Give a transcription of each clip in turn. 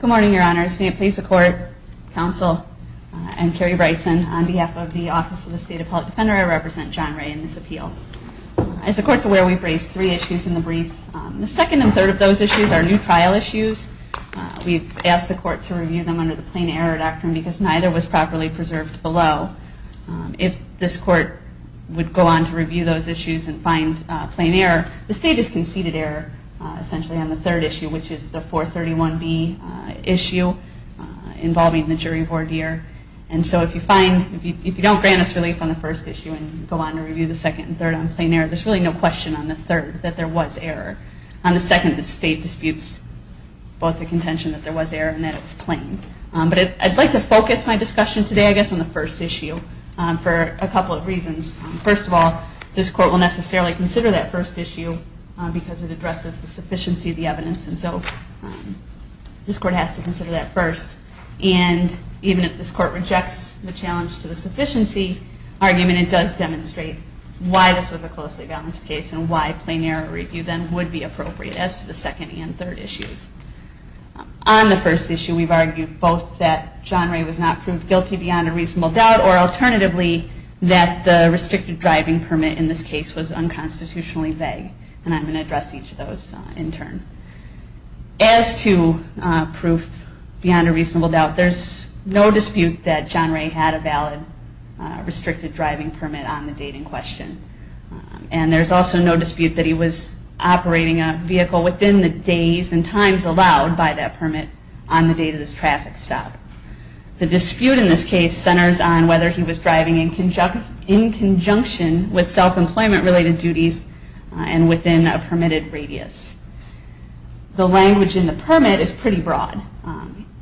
Good morning Your Honors, may it please the court, counsel, I'm Carrie Bryson on behalf of the Office of the State Appellate Defender. I represent John Ray in this appeal. As the court is aware, we've raised three issues in the brief. The second and third of those issues are new trial issues. We've asked the court to review them under the plain error doctrine because neither was properly preserved below. If this court would go on to review those issues and find plain error, the state has conceded error essentially on the third issue, which is the 431B issue involving the jury voir dire. If you don't grant us relief on the first issue and go on to review the second and third on plain error, there's really no question on the third that there was error. On the second, the state disputes both the contention that there was error and that it was plain. I'd like to focus my discussion today on the first issue for a couple of reasons. First of all, this court will necessarily consider that first issue because it addresses the sufficiency of the evidence, and so this court has to consider that first. And even if this court rejects the challenge to the sufficiency argument, it does demonstrate why this was a closely balanced case and why plain error review then would be appropriate as to the second and third issues. On the first issue, we've argued both that John Ray was not proved guilty beyond a reasonable doubt, or alternatively, that the restricted driving permit in this case was unconstitutionally vague. And I'm going to address each of those in turn. As to proof beyond a reasonable doubt, there's no dispute that John Ray had a valid restricted driving permit on the date in question. And there's also no dispute that he was operating a vehicle within the days and times allowed by that permit on the date of this traffic stop. The dispute in this case centers on whether he was driving in conjunction with self-employment related duties and within a permitted radius. The language in the permit is pretty broad.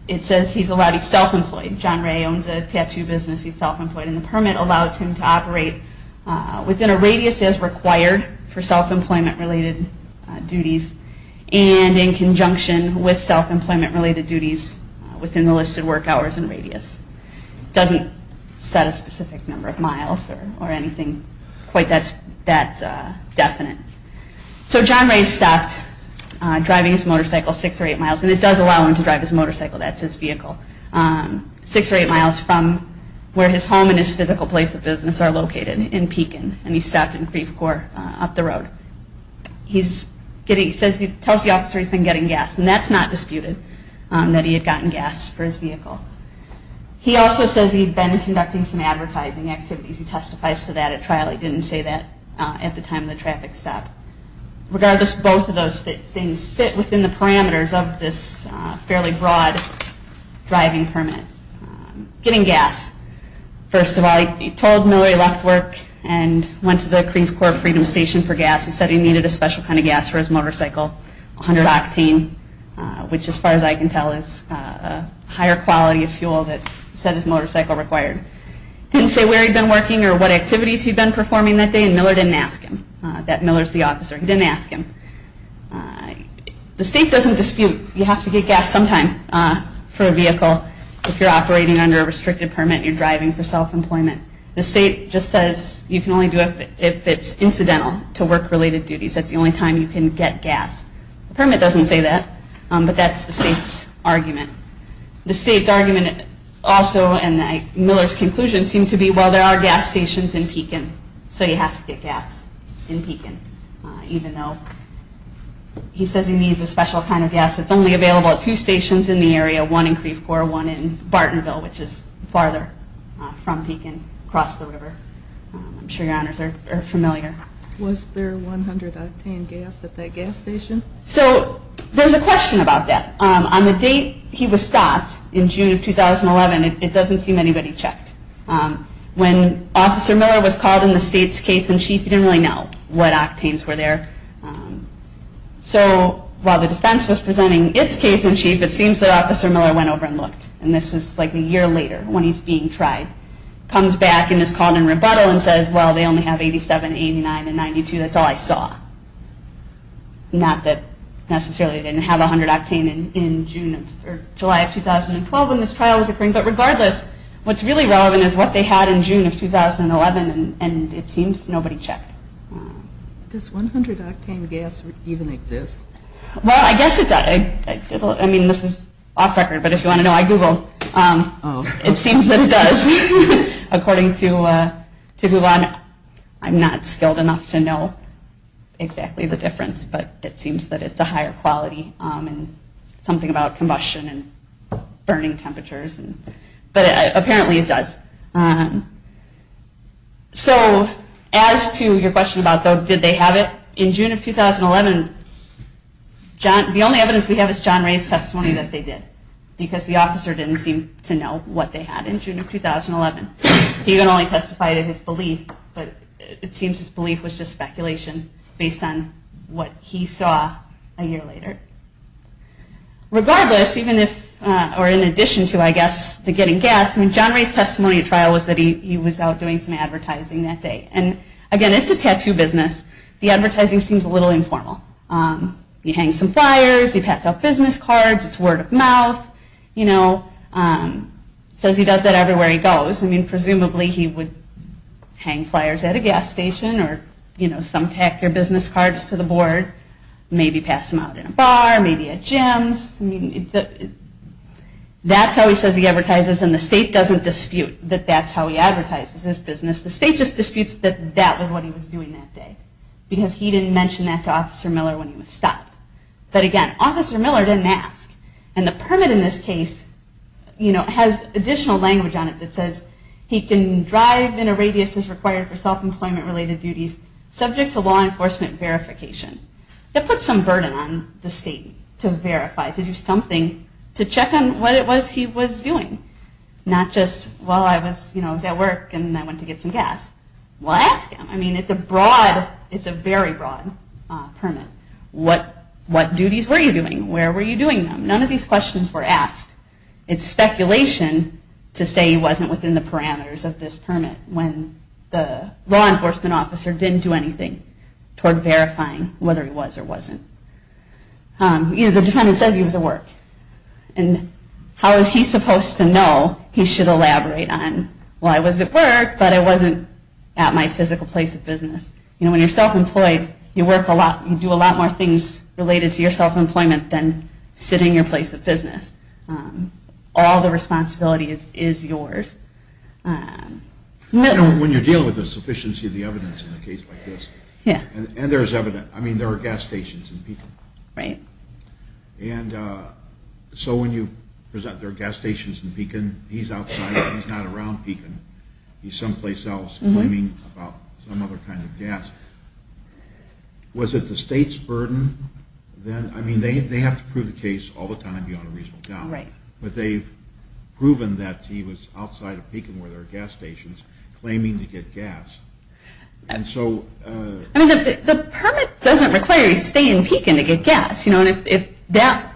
It says he's allowed to self-employ. John Ray owns a tattoo business, he's self-employed, and the permit allows him to operate within a radius as required for self-employment related duties and in conjunction with self-employment related duties within the listed work hours and radius. It doesn't set a specific number of miles or anything quite that definite. So John Ray stopped driving his motorcycle six or eight miles, and it does allow him to drive his motorcycle, that's his vehicle, six or eight miles from where his home and his physical place of business are located in Pekin, and he stopped in Creve Coeur up the road. He tells the officer he's been getting gas, and that's not disputed, that he had gotten gas for his vehicle. He also says he'd been conducting some advertising activities. He testifies to that at trial. He didn't say that at the time of the traffic stop. Regardless, both of those things fit within the parameters of this fairly broad driving permit. Getting gas, first of all, he told Miller he left work and went to the Creve Coeur Freedom Station for gas. He said he needed a special kind of gas for his motorcycle, 100 octane, which as far as I can tell is a higher quality of fuel that he said his motorcycle required. He didn't say where he'd been working or what activities he'd been performing that day, and Miller didn't ask him. That Miller's the officer. He didn't ask him. The state doesn't dispute, you have to get gas sometime for a vehicle if you're operating under a restricted permit and you're driving for self-employment. The state just says you can only do it if it's incidental to work-related duties. That's the only time you can get gas. The permit doesn't say that, but that's the state's argument. The state's argument also, and Miller's conclusion, seemed to be, well, there are gas stations in Pekin, so you have to get gas in Pekin, even though he says he needs a special kind of gas that's only available at two stations in the area, one in Creve Coeur, one in Bartonville, which is farther from Pekin, across the river. I'm sure your honors are familiar. Was there 100 octane gas at that gas station? So there's a question about that. On the date he was stopped, in June of 2011, it doesn't seem anybody checked. When Officer Miller was called in the state's case-in-chief, he didn't really know what octanes were there. So while the defense was presenting its case-in-chief, it seems that Officer Miller went over and looked, and this is like a year later when he's being tried. Comes back and is called in rebuttal and says, well, they only have 87, 89, and 92. That's all I saw. Not that necessarily they didn't have 100 octane in July of 2012 when this trial was occurring, but regardless, what's really relevant is what they had in June of 2011, and it seems nobody checked. Does 100 octane gas even exist? Well, I guess it does. I mean, this is off record, but if you want to know, I googled. It seems that it does. According to Guvon, I'm not skilled enough to know exactly the difference, but it seems that it's a higher quality and something about combustion and burning temperatures, but apparently it does. So as to your question about, though, did they have it? In June of 2011, the only evidence we have is John Ray's testimony that they did, because the officer didn't seem to know what they had in June of 2011. He even only testified in his belief, but it seems his belief was just speculation based on what he saw a year later. Regardless, even if, or in addition to, I guess, the getting gas, I mean, John Ray's testimony at trial was that he was out doing some advertising that day, and again, it's a tattoo business. The advertising seems a little informal. You hang some flyers, you pass out business cards, it's word of mouth, you know, it says he does that everywhere he goes. I mean, presumably he would hang flyers at a gas station or, you know, thumbtack your business cards to the board, maybe pass them out in a bar, maybe at gyms. That's how he says he advertises, and the state doesn't dispute that that's how he advertises his business. The state just disputes that that was what he was doing that day, because he didn't mention that to Officer Miller when he was stopped. But again, Officer Miller didn't ask, and the permit in this case, you know, has additional language on it that says he can drive in a radius as required for self-employment related duties subject to law enforcement verification. That puts some burden on the state to verify, to do something to check on what it was he was doing, not just, well, I was, you know, at work and I went to get some gas. Well, ask him. I mean, it's a broad, it's a very broad permit. What duties were you doing? Where were you doing them? None of these questions were asked. It's speculation to say he wasn't within the parameters of this permit when the law enforcement officer didn't do anything toward verifying whether he was or wasn't. You know, the defendant said he was at work, and how is he supposed to know? He should elaborate on, well, I was at work, but I wasn't at my physical place of business. You know, when you're self-employed, you work a lot, you do a lot more things related to your self-employment than sitting in your place of business. All the responsibility is yours. When you're dealing with the sufficiency of the evidence in a case like this, and there's evidence, I mean, there are gas stations in Pekin, and so when you present there are gas stations in Pekin, he's outside, he's not around Pekin, he's someplace else claiming about some other kind of gas. Was it the state's burden? I mean, they have to prove the case all the time beyond a reasonable doubt, but they've proven that he was outside of Pekin where there are gas stations claiming to get gas. And so... I mean, the permit doesn't require you to stay in Pekin to get gas, you know, and if that,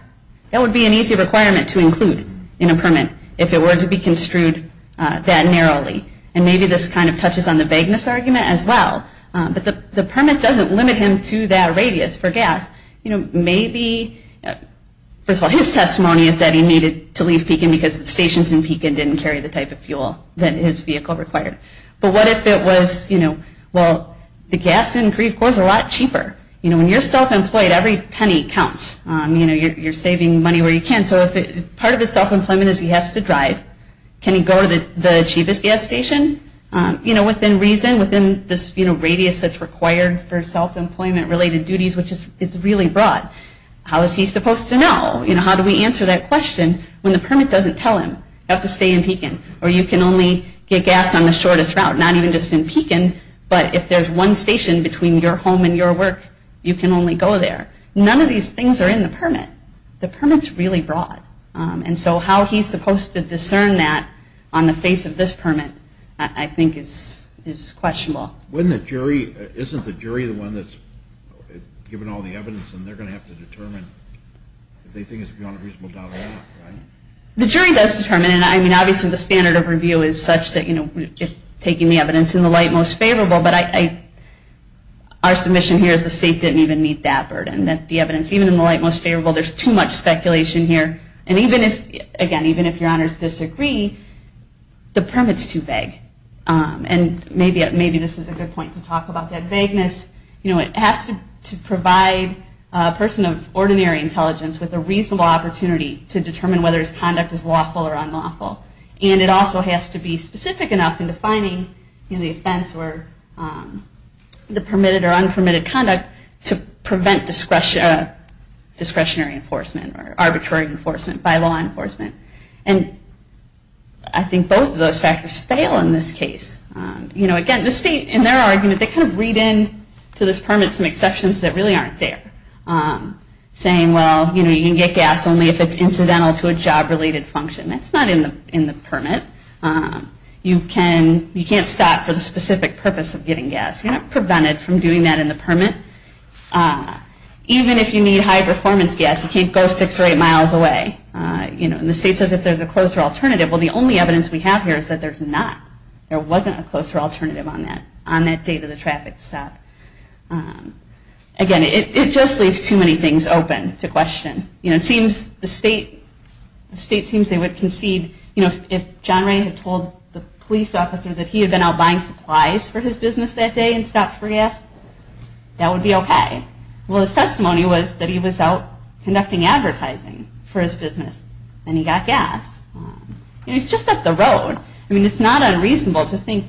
that would be an easy requirement to include in a permit if it were to be construed that narrowly. And maybe this kind of touches on the vagueness argument as well, but the vagueness of his testimony is that he needed to leave Pekin because the stations in Pekin didn't carry the type of fuel that his vehicle required. But what if it was, you know, well, the gas in Grieve Corps is a lot cheaper. You know, when you're self-employed, every penny counts. You know, you're saving money where you can. So if part of his self-employment is he has to drive, can he go to the cheapest gas station? You know, within reason, within this, you know, radius that's required for self-employment related duties, which is really broad. How is he supposed to know? You know, how do we answer that question when the permit doesn't tell him? You have to stay in Pekin. Or you can only get gas on the shortest route, not even just in Pekin, but if there's one station between your home and your work, you can only go there. None of these things are in the permit. The permit's really broad. And so how he's supposed to discern that on the face of this permit, I think, is questionable. Isn't the jury the one that's given all the evidence, and they're going to have to determine if they think it's beyond a reasonable doubt or not, right? The jury does determine, and I mean, obviously the standard of review is such that, you know, we're just taking the evidence in the light most favorable, but our submission here is the state didn't even meet that burden, that the evidence, even in the light most favorable, there's too much speculation here. And even if, again, even if your honors disagree, the evidence is a good point to talk about that vagueness. You know, it has to provide a person of ordinary intelligence with a reasonable opportunity to determine whether his conduct is lawful or unlawful. And it also has to be specific enough in defining, you know, the offense or the permitted or unpermitted conduct to prevent discretionary enforcement or arbitrary enforcement by law enforcement. And I think both of those factors fail in this case. You know, again, the state, in their argument, they kind of read into this permit some exceptions that really aren't there, saying, well, you know, you can get gas only if it's incidental to a job-related function. That's not in the permit. You can't stop for the specific purpose of getting gas. You're not prevented from doing that in the permit. Even if you need high-performance gas, you can't go six or eight miles away. You know, and the state says if there's a closer alternative, well, the only evidence we have here is that there's not. There wasn't a closer alternative on that date of the traffic stop. Again, it just leaves too many things open to question. You know, it seems the state, the state seems they would concede, you know, if John Ray had told the police officer that he had been out buying supplies for his business that day and stopped for gas, that would be okay. Well, his testimony was that he was out conducting advertising for his business and he got gas. He's just up the road. I mean, it's not unreasonable to think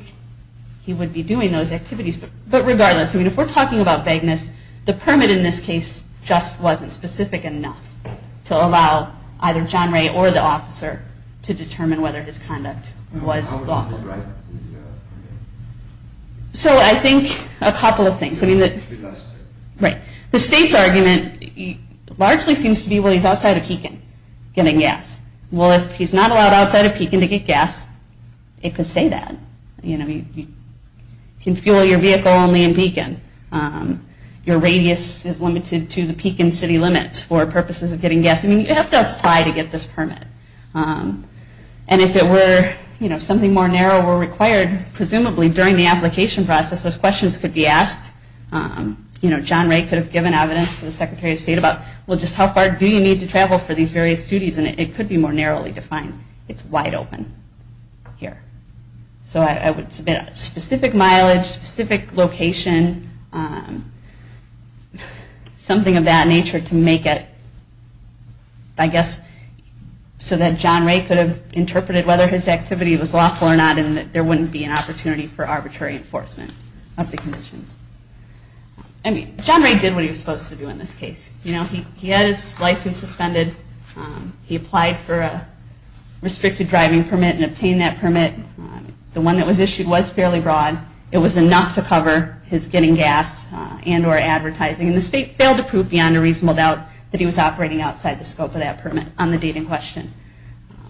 he would be doing those activities. But regardless, I mean, if we're talking about vagueness, the permit in this case just wasn't specific enough to allow either John Ray or the officer to determine whether his conduct was lawful. So I think a couple of things. I mean, the state's argument largely seems to be, well, he's outside of Pekin getting gas. Well, if he's not allowed outside of Pekin to get gas, it could say that. You know, you can fuel your vehicle only in Pekin. Your radius is limited to the Pekin city limits for purposes of getting gas. I mean, you have to apply to get this permit. And if it were, you know, something more narrow were required, presumably during the application process, those questions could be asked. You know, John Ray could have given evidence to the Secretary of State about, well, just how far do you need to travel for these various duties, and it could be more narrowly defined. It's wide open here. So I would submit specific mileage, specific location, something of that nature to make it, I guess, so that John Ray could have interpreted whether his activity was lawful or not and that there wouldn't be an opportunity for arbitrary enforcement of the conditions. I mean, John Ray did what he was supposed to do in this case. You know, he had his license suspended. He applied for a restricted driving permit and obtained that permit. The one that was issued was fairly broad. It was enough to cover his getting gas and or advertising, and the state failed to prove beyond a reasonable doubt that he was operating outside the scope of that permit on the date in question.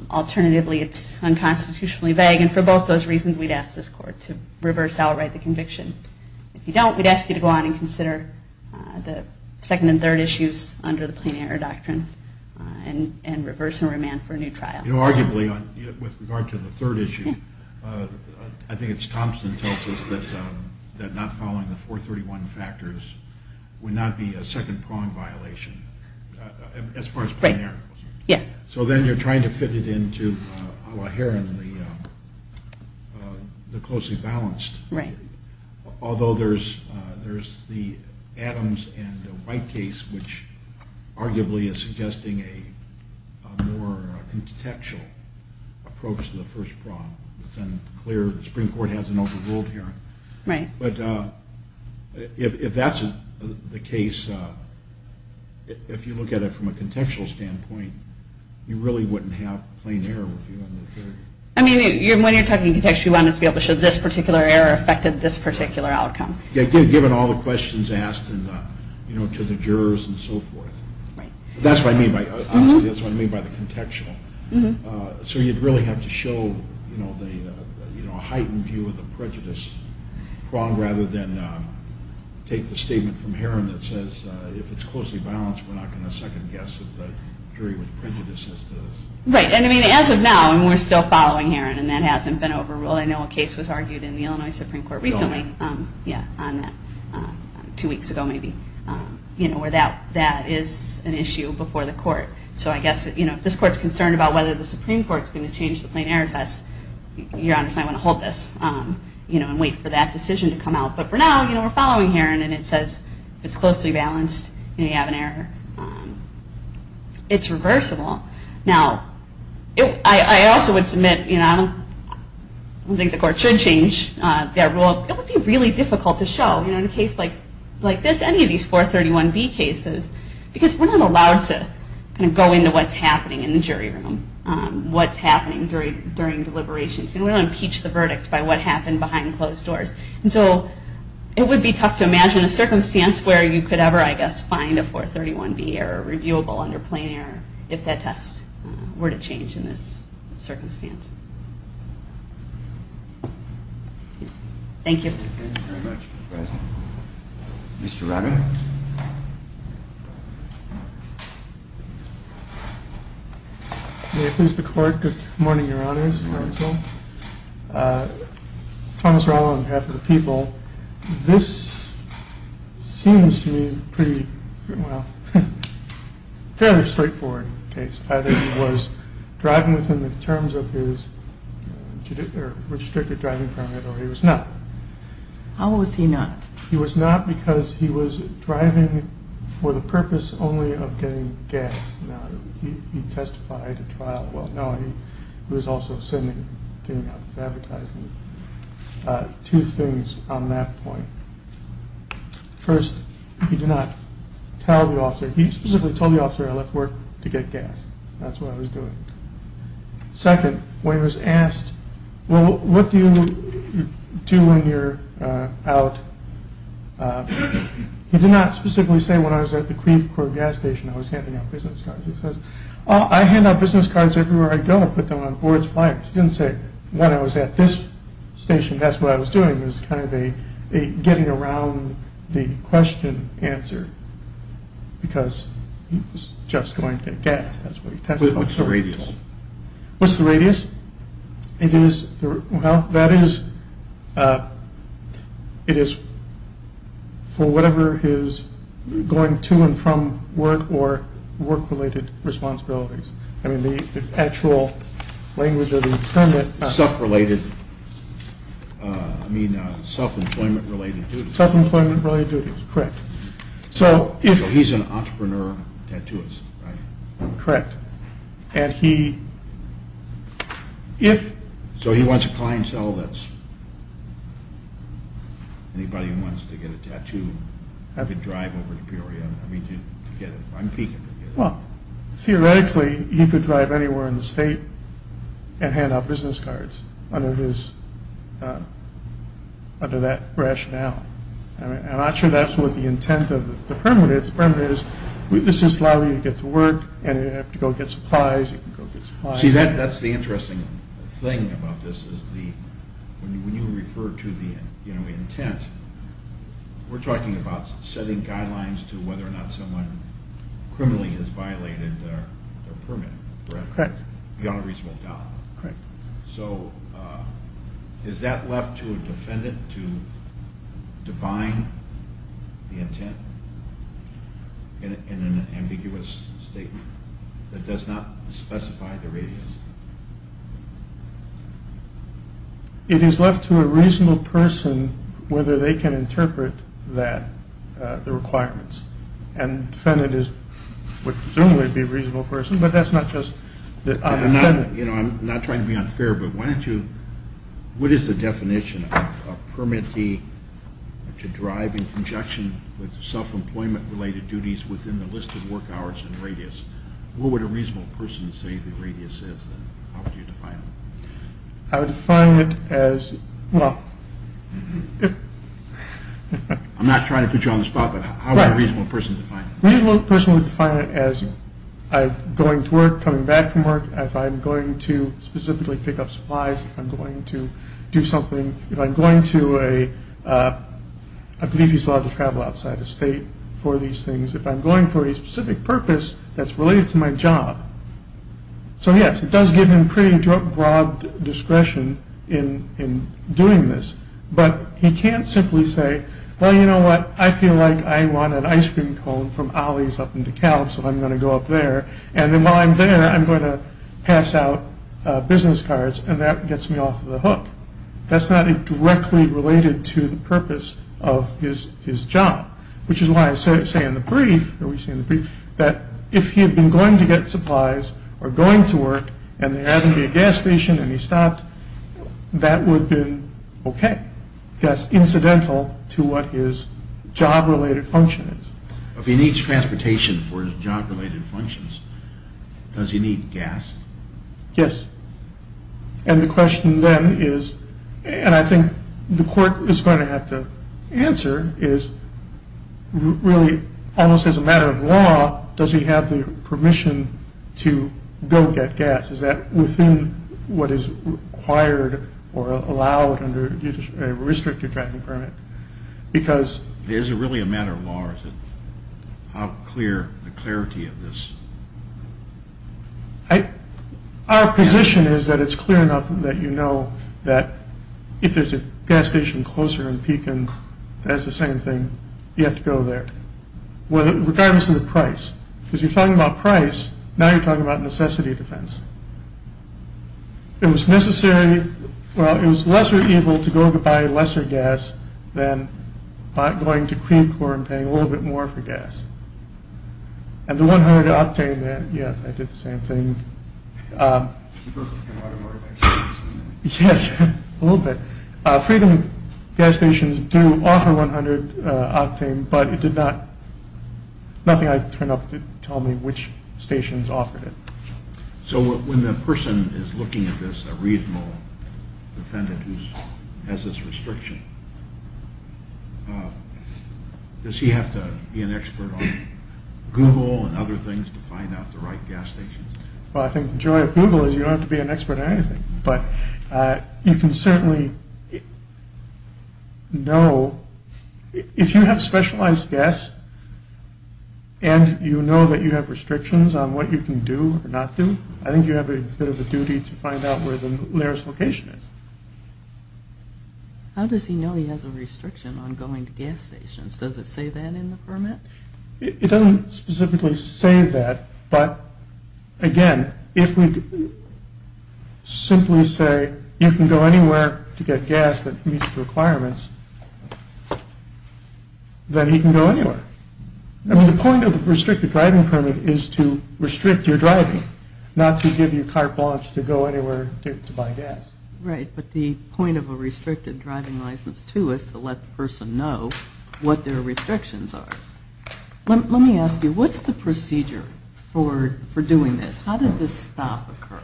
Alternatively, it's unconstitutionally vague, and for both those reasons, we'd ask this Court to reverse outright the conviction. If you don't, we'd ask you to go on and consider the second and third issues under the plein air doctrine and reverse and remand for a new trial. You know, arguably, with regard to the third issue, I think it's Thompson who tells us that not following the 431 factors would not be a second-prong violation as far as plein air. Right. Yeah. So then you're trying to fit it into a la Heron, the closely balanced. Right. Although there's the Adams and White case, which arguably is suggesting a more contextual approach to the first prong. It's unclear. The Supreme Court hasn't overruled Heron. Right. But if that's the case, if you look at it from a contextual standpoint, you really wouldn't have plein air. I mean, when you're talking contextual, you wanted to be able to show this particular error affected this particular outcome. Yeah, given all the questions asked to the jurors and so forth. Right. That's what I mean by the contextual. So you'd really have to show, you know, a heightened view of the prejudice prong rather than take the statement from Heron that says if it's closely balanced, we're not going to second-guess the jury with prejudices. Right. And I mean, as of now, we're still following Heron, and that hasn't been overruled. I know a case was argued in the Illinois Supreme Court recently on that, two weeks ago maybe, where that is an issue before the court. So I guess, you know, if this court is concerned about whether the Supreme Court is going to change the plein air test, your Honor might want to hold this, you know, and wait for that decision to come out. But for now, you know, we're following Heron, and it says if it's closely balanced, you know, you have an error. It's reversible. Now, I also would submit, you know, I don't think the court should change that rule. It would be really difficult to show, you know, in a case like this, any of these 431B cases, because we're not allowed to kind of go into what's happening in the jury room, what's happening during deliberations. You know, we don't impeach the verdict by what happened behind closed doors. And so it would be tough to imagine a circumstance where you could ever, I guess, find a 431B error reviewable under plein air if that test were to change in this circumstance. Thank you. Thank you very much, Mr. President. Mr. Runner. May it please the Court. Good morning, Your Honors and counsel. Thomas Rallo on behalf of the people. This seems to me pretty, well, fairly straightforward case. Either he was driving within the terms of his restricted driving permit or he was not. How was he not? He was not because he was driving for the purpose only of getting gas. Now, he testified at trial. Well, no, he was also sending, getting out advertising. Two things on that point. First, he did not tell the officer. He specifically told the officer I left work to get gas. That's what I was doing. Second, when he was asked, well, what do you do when you're out? He did not specifically say when I was at the Creef Corp gas station I was handing out business cards. He says, oh, I hand out business cards everywhere I go. I put them on boards, flyers. He didn't say when I was at this station, that's what I was doing. It was kind of a getting around the question answer because he was just going to get gas. That's what he testified. What's the radius? What's the radius? It is, well, that is, it is for whatever his going to and from work or work-related responsibilities. I mean, the actual language of the permit. Self-related, I mean, self-employment related duties. Self-employment related duties, correct. So he's an entrepreneur tattooist, right? Correct. And he, if. So he wants a clientele that's, anybody who wants to get a tattoo, could drive over to Peoria, I mean, to get it. Well, theoretically, he could drive anywhere in the state and hand out business cards under his, under that rationale. I'm not sure that's what the intent of the permit is. The permit is, this is allowing you to get to work and you don't have to go get supplies. You can go get supplies. See, that's the interesting thing about this is the, when you refer to the intent, we're talking about setting guidelines to whether or not someone criminally has violated their permit, correct? Correct. Beyond a reasonable doubt. Correct. So is that left to a defendant to define the intent in an ambiguous statement that does not specify the radius? It is left to a reasonable person whether they can interpret that, the requirements. And the defendant is, would presumably be a reasonable person, but that's not just, I'm offended. You know, I'm not trying to be unfair, but why don't you, what is the definition of a permittee to drive in conjunction with self-employment related duties within the list of work hours and radius? What would a reasonable person say the radius is? How would you define it? I would define it as, well, if... I'm not trying to put you on the spot, but how would a reasonable person define it? A reasonable person would define it as going to work, coming back from work. If I'm going to specifically pick up supplies, if I'm going to do something, if I'm going to a, I believe he's allowed to travel outside of state for these things. If I'm going for a specific purpose that's related to my job. So, yes, it does give him pretty broad discretion in doing this, but he can't simply say, well, you know what, I feel like I want an ice cream cone from Ollie's up in DeKalb, so I'm going to go up there, and then while I'm there I'm going to pass out business cards, and that gets me off the hook. That's not directly related to the purpose of his job, which is why I say in the brief that if he had been going to get supplies or going to work and there happened to be a gas station and he stopped, that would have been okay. That's incidental to what his job-related function is. If he needs transportation for his job-related functions, does he need gas? Yes. And the question then is, and I think the court is going to have to answer, is really almost as a matter of law, does he have the permission to go get gas? Is that within what is required or allowed under a restrictive driving permit? Because... It isn't really a matter of law, is it? How clear, the clarity of this... Our position is that it's clear enough that you know that if there's a gas station closer in Pekin that's the same thing, you have to go there, regardless of the price. Because you're talking about price, now you're talking about necessity defense. It was necessary... Well, it was lesser evil to go to buy lesser gas than going to Creek or paying a little bit more for gas. And the 100 octane... Yes, I did the same thing. Yes, a little bit. Freedom gas stations do offer 100 octane, but it did not... Nothing I turned up did tell me which stations offered it. So when the person is looking at this, a reasonable defendant who has this restriction, does he have to be an expert on Google and other things to find out the right gas station? Well, I think the joy of Google is you don't have to be an expert on anything. But you can certainly know... If you have specialized gas and you know that you have restrictions on what you can do or not do, I think you have a bit of a duty to find out where the nearest location is. How does he know he has a restriction on going to gas stations? Does it say that in the permit? It doesn't specifically say that. But, again, if we simply say you can go anywhere to get gas that meets the requirements, then he can go anywhere. The point of a restricted driving permit is to restrict your driving, not to give you carte blanche to go anywhere to buy gas. Right, but the point of a restricted driving license, too, is to let the person know what their restrictions are. Let me ask you, what's the procedure for doing this? How did this stop occur?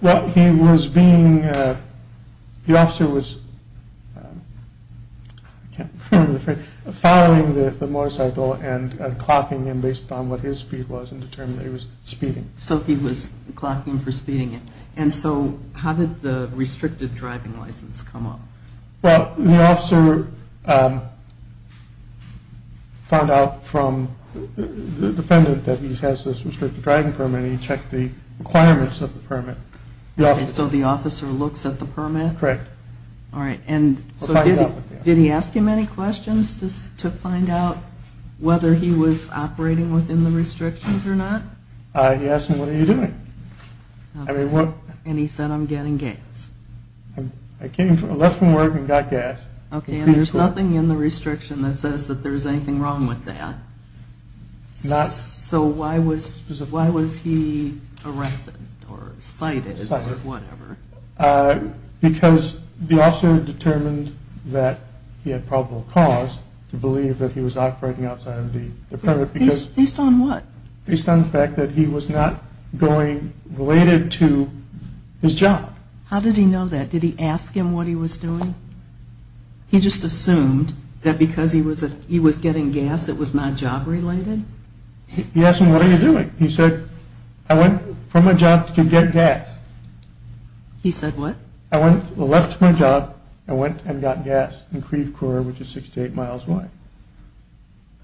Well, he was being... The officer was following the motorcycle and clocking him based on what his speed was and determined that he was speeding. So he was clocking him for speeding him. And so how did the restricted driving license come up? Well, the officer found out from the defendant that he has this restricted driving permit, and he checked the requirements of the permit. So the officer looks at the permit? Correct. All right. And so did he ask him any questions to find out whether he was operating within the restrictions or not? He asked me, what are you doing? And he said, I'm getting gas. I left from work and got gas. Okay, and there's nothing in the restriction that says that there's anything wrong with that. So why was he arrested or cited or whatever? Because the officer determined that he had probable cause to believe that he was operating outside of the permit. Based on what? Based on the fact that he was not going related to his job. How did he know that? Did he ask him what he was doing? He just assumed that because he was getting gas it was not job related? He asked me, what are you doing? He said, I went from my job to get gas. He said what? I left my job and went and got gas in Creve Coeur, which is six to eight miles away.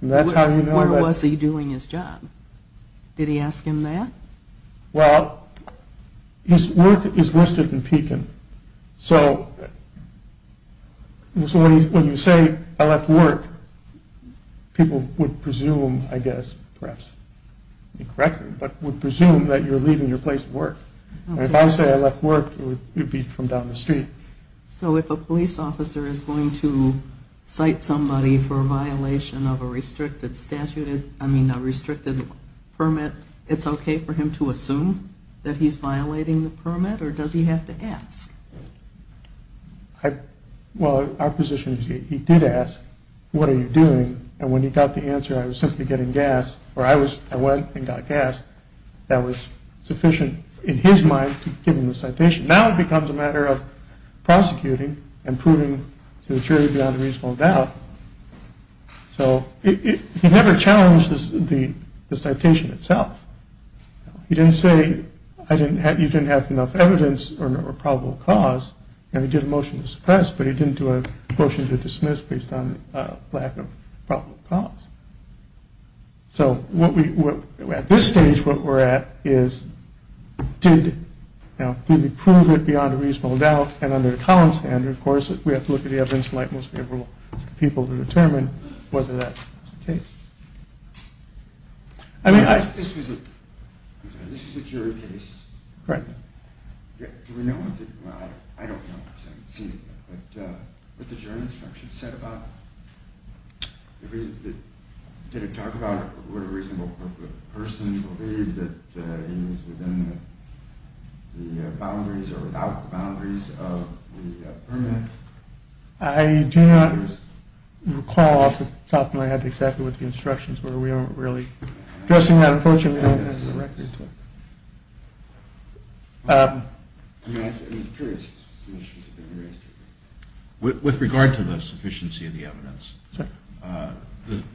Where was he doing his job? Did he ask him that? Well, his work is listed in Pekin. So when you say I left work, people would presume, I guess, perhaps, correct me, but would presume that you're leaving your place of work. If I say I left work, it would be from down the street. So if a police officer is going to cite somebody for a violation of a restricted statute, I mean a restricted permit, it's okay for him to assume that he's violating the permit? Or does he have to ask? Well, our position is he did ask, what are you doing? And when he got the answer, I was simply getting gas, or I went and got gas. That was sufficient in his mind to give him the citation. Now it becomes a matter of prosecuting and proving to the jury beyond a reasonable doubt. So he never challenged the citation itself. He didn't say you didn't have enough evidence or probable cause, and he did a motion to suppress, but he didn't do a motion to dismiss based on lack of probable cause. So at this stage, what we're at is did we prove it beyond a reasonable doubt? And under the Collins standard, of course, we have to look at the evidence from the most favorable people to determine whether that's the case. This was a jury case. Correct. Do we know what the jury instruction said about it? Did it talk about it? Did the person believe that it was within the boundaries or without the boundaries of the permanent? I do not recall off the top of my head exactly what the instructions were. We aren't really addressing that, unfortunately. We don't have the records for it. I'm curious. With regard to the sufficiency of the evidence,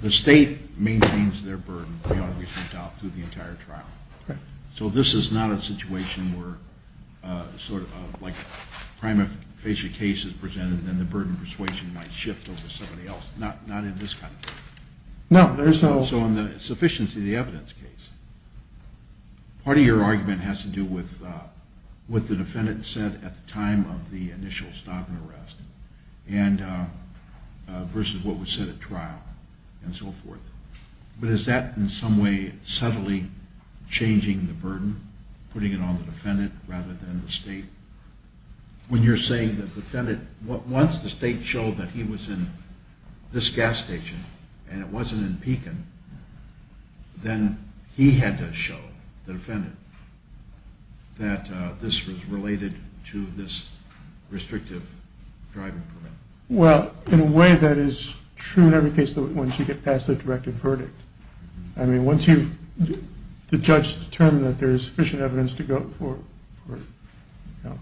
the state maintains their burden beyond a reasonable doubt through the entire trial. So this is not a situation where sort of like a prima facie case is presented and then the burden of persuasion might shift over to somebody else. Not in this kind of case. So on the sufficiency of the evidence case, part of your argument has to do with what the defendant said at the time of the initial stop and arrest versus what was said at trial and so forth. But is that in some way subtly changing the burden, putting it on the defendant rather than the state? When you're saying the defendant, once the state showed that he was in this gas station and it wasn't in Pekin, then he had to show the defendant that this was related to this restrictive driving permit. Well, in a way that is true in every case once you get past the directive verdict. I mean, once the judge determines that there is sufficient evidence to go for, you know,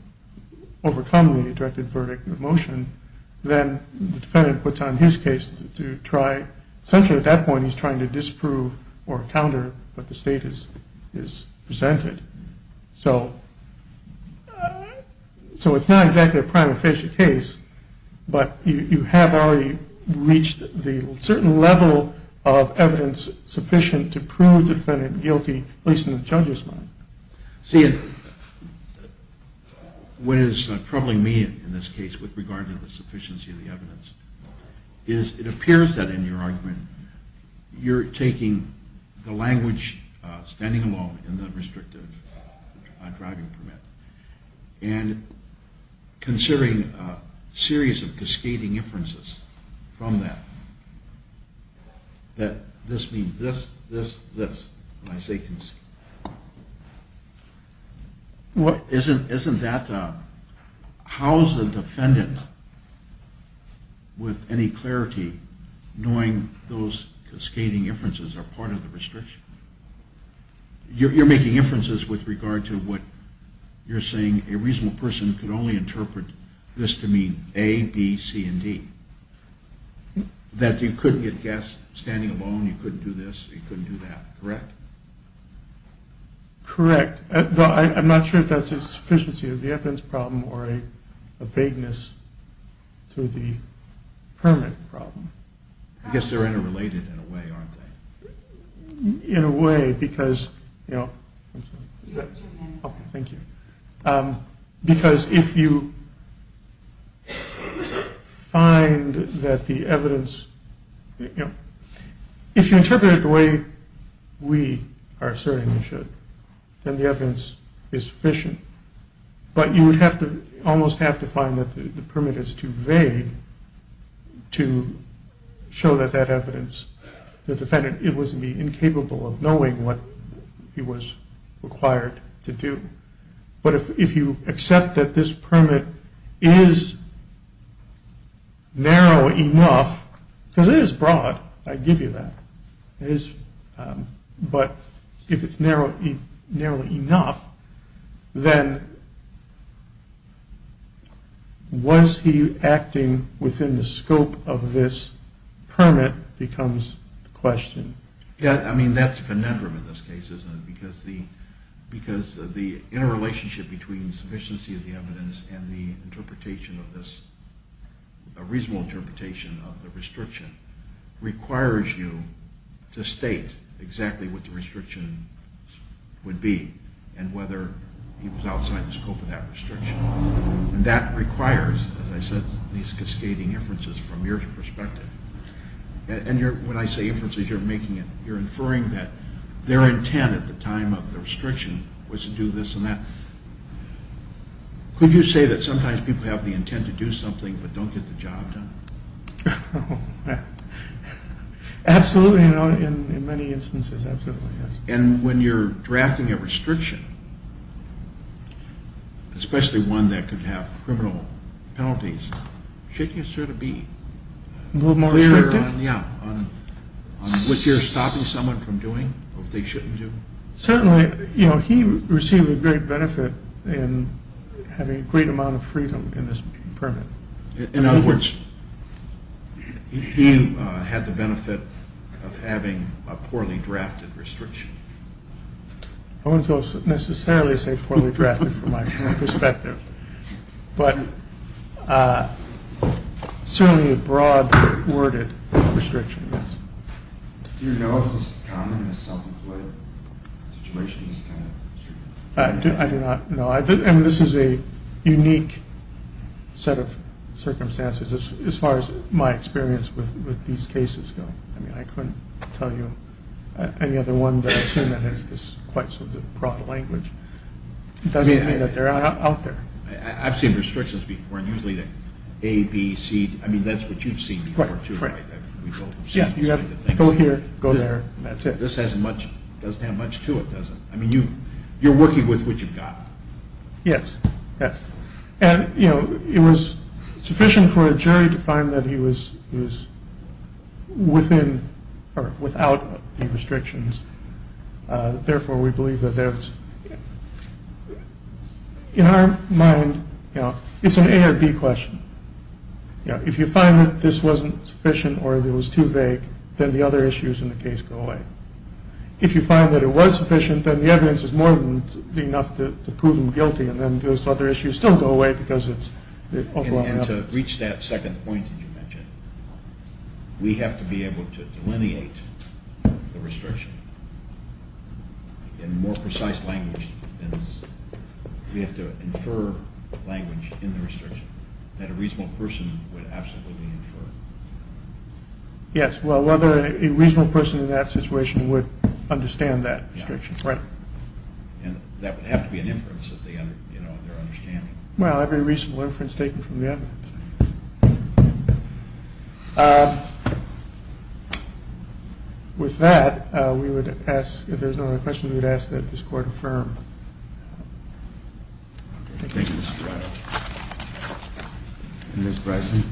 overcoming the directive verdict in the motion, then the defendant puts on his case to try. Essentially at that point he's trying to disprove or counter what the state has presented. So it's not exactly a prima facie case, but you have already reached the certain level of evidence sufficient to prove the defendant guilty, at least in the judge's mind. See, what is troubling me in this case with regard to the sufficiency of the evidence is it appears that in your argument you're taking the language standing alone in the restrictive driving permit and considering a series of cascading inferences from that, that this means this, this, this. Isn't that, how is the defendant with any clarity knowing those cascading inferences are part of the restriction? You're making inferences with regard to what you're saying a reasonable person could only interpret this to mean A, B, C, and D. That you couldn't get gas standing alone, you couldn't do this, you couldn't do that. Is that correct? Correct. Though I'm not sure if that's a sufficiency of the evidence problem or a vagueness to the permit problem. I guess they're interrelated in a way, aren't they? In a way, because, you know, because if you find that the evidence, you know, if you interpret it the way we are asserting it should, then the evidence is sufficient. But you would have to, almost have to find that the permit is too vague to show that that evidence, the defendant, it was to be incapable of knowing what he was required to do. But if you accept that this permit is narrow enough, because it is broad, I give you that, but if it's narrow enough, then was he acting within the scope of this permit becomes the question. Yeah, I mean, that's conundrum in this case, isn't it? Because the interrelationship between the sufficiency of the evidence and the interpretation of this, a reasonable interpretation of the restriction, requires you to state exactly what the restriction would be and whether he was outside the scope of that restriction. And that requires, as I said, these cascading inferences from your perspective. And when I say inferences, you're making it, you're inferring that their intent at the time of the restriction was to do this and that. Could you say that sometimes people have the intent to do something but don't get the job done? Absolutely, in many instances, absolutely, yes. And when you're drafting a restriction, especially one that could have criminal penalties, shouldn't you sort of be clear on what you're stopping someone from doing or what they shouldn't do? Certainly, you know, he received a great benefit in having a great amount of freedom in this permit. In other words, he had the benefit of having a poorly drafted restriction. I wouldn't necessarily say poorly drafted from my perspective, but certainly a broad worded restriction, yes. Do you know if this is common in a self-employed situation? I do not know. I mean, this is a unique set of circumstances as far as my experience with these cases go. I mean, I couldn't tell you any other one that I've seen that has quite such a broad language. It doesn't mean that they're out there. I've seen restrictions before, and usually they're A, B, C. I mean, that's what you've seen before too, right? Yeah, you have to go here, go there, and that's it. This doesn't have much to it, does it? I mean, you're working with what you've got. Yes, yes. And, you know, it was sufficient for a jury to find that he was within or without the restrictions. Therefore, we believe that there was – in our mind, you know, it's an A or B question. If you find that this wasn't sufficient or it was too vague, then the other issues in the case go away. If you find that it was sufficient, then the evidence is more than enough to prove him guilty, and then those other issues still go away because it's – And to reach that second point that you mentioned, we have to be able to delineate the restriction. In more precise language, we have to infer language in the restriction that a reasonable person would absolutely infer. Yes, well, whether a reasonable person in that situation would understand that restriction. Yeah. Right. And that would have to be an inference of their understanding. Well, every reasonable inference taken from the evidence. With that, we would ask – Thank you, Mr. Arado. Ms. Bryson.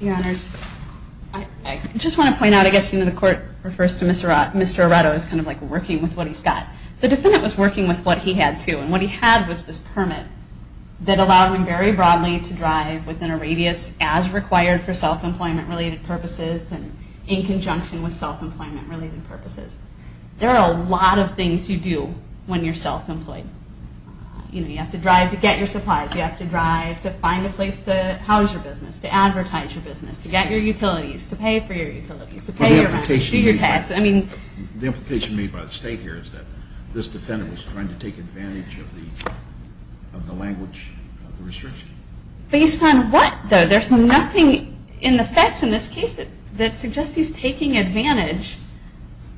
Your Honors, I just want to point out, I guess, you know, the Court refers to Mr. Arado as kind of like working with what he's got. The defendant was working with what he had, too, and what he had was this permit that allowed him very broadly to drive within a radius as required for self-employment-related purposes and in conjunction with self-employment-related purposes. There are a lot of things you do when you're self-employed. You know, you have to drive to get your supplies. You have to drive to find a place to house your business, to advertise your business, to get your utilities, to pay for your utilities, to pay your rent, do your taxes. The implication made by the State here is that this defendant was trying to take advantage of the language of the restriction. Based on what, though? There's nothing in the facts in this case that suggests he's taking advantage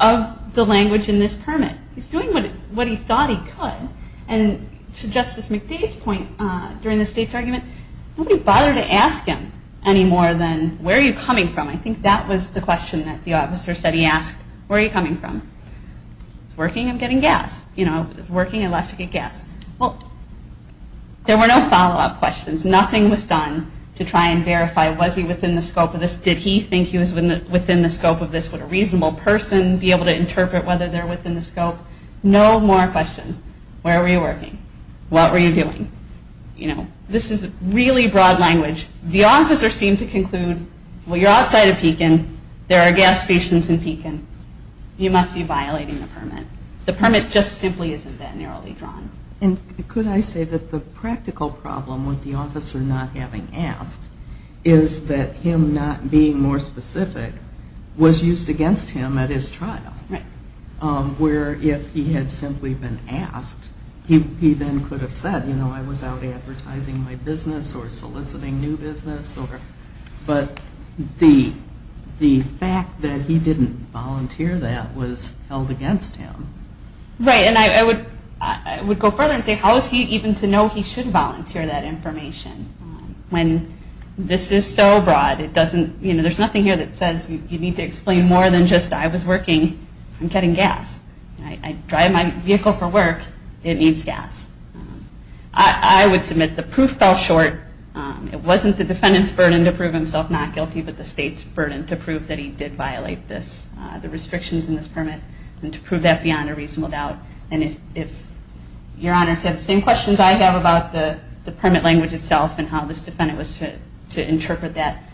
of the language in this permit. He's doing what he thought he could, and to Justice McDade's point during the State's argument, nobody bothered to ask him any more than, where are you coming from? I think that was the question that the officer said he asked. Where are you coming from? If it's working, I'm getting gas. You know, if it's working, I'd like to get gas. Well, there were no follow-up questions. Nothing was done to try and verify, was he within the scope of this? Did he think he was within the scope of this? Would a reasonable person be able to interpret whether they're within the scope? No more questions. Where were you working? What were you doing? You know, this is really broad language. The officer seemed to conclude, well, you're outside of Pekin. There are gas stations in Pekin. You must be violating the permit. The permit just simply isn't that narrowly drawn. Could I say that the practical problem with the officer not having asked is that him not being more specific was used against him at his trial? Right. Where if he had simply been asked, he then could have said, you know, I was out advertising my business or soliciting new business. But the fact that he didn't volunteer that was held against him. Right, and I would go further and say, how is he even to know he should volunteer that information when this is so broad? It doesn't, you know, there's nothing here that says you need to explain more than just I was working and getting gas. I drive my vehicle for work. It needs gas. I would submit the proof fell short. It wasn't the defendant's burden to prove himself not guilty, but the state's burden to prove that he did violate this, the restrictions in this permit, and to prove that beyond a reasonable doubt. And if your honors have the same questions I have about the permit language itself and how this defendant was to interpret that,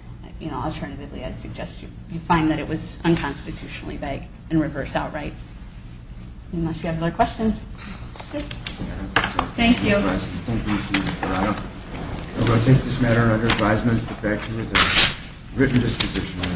you know, alternatively I suggest you find that it was unconstitutionally vague and reverse outright. Unless you have other questions. Thank you. Thank you. I'm going to take this matter under advisement. In fact, it was a written disposition. I'm going to have a short recess.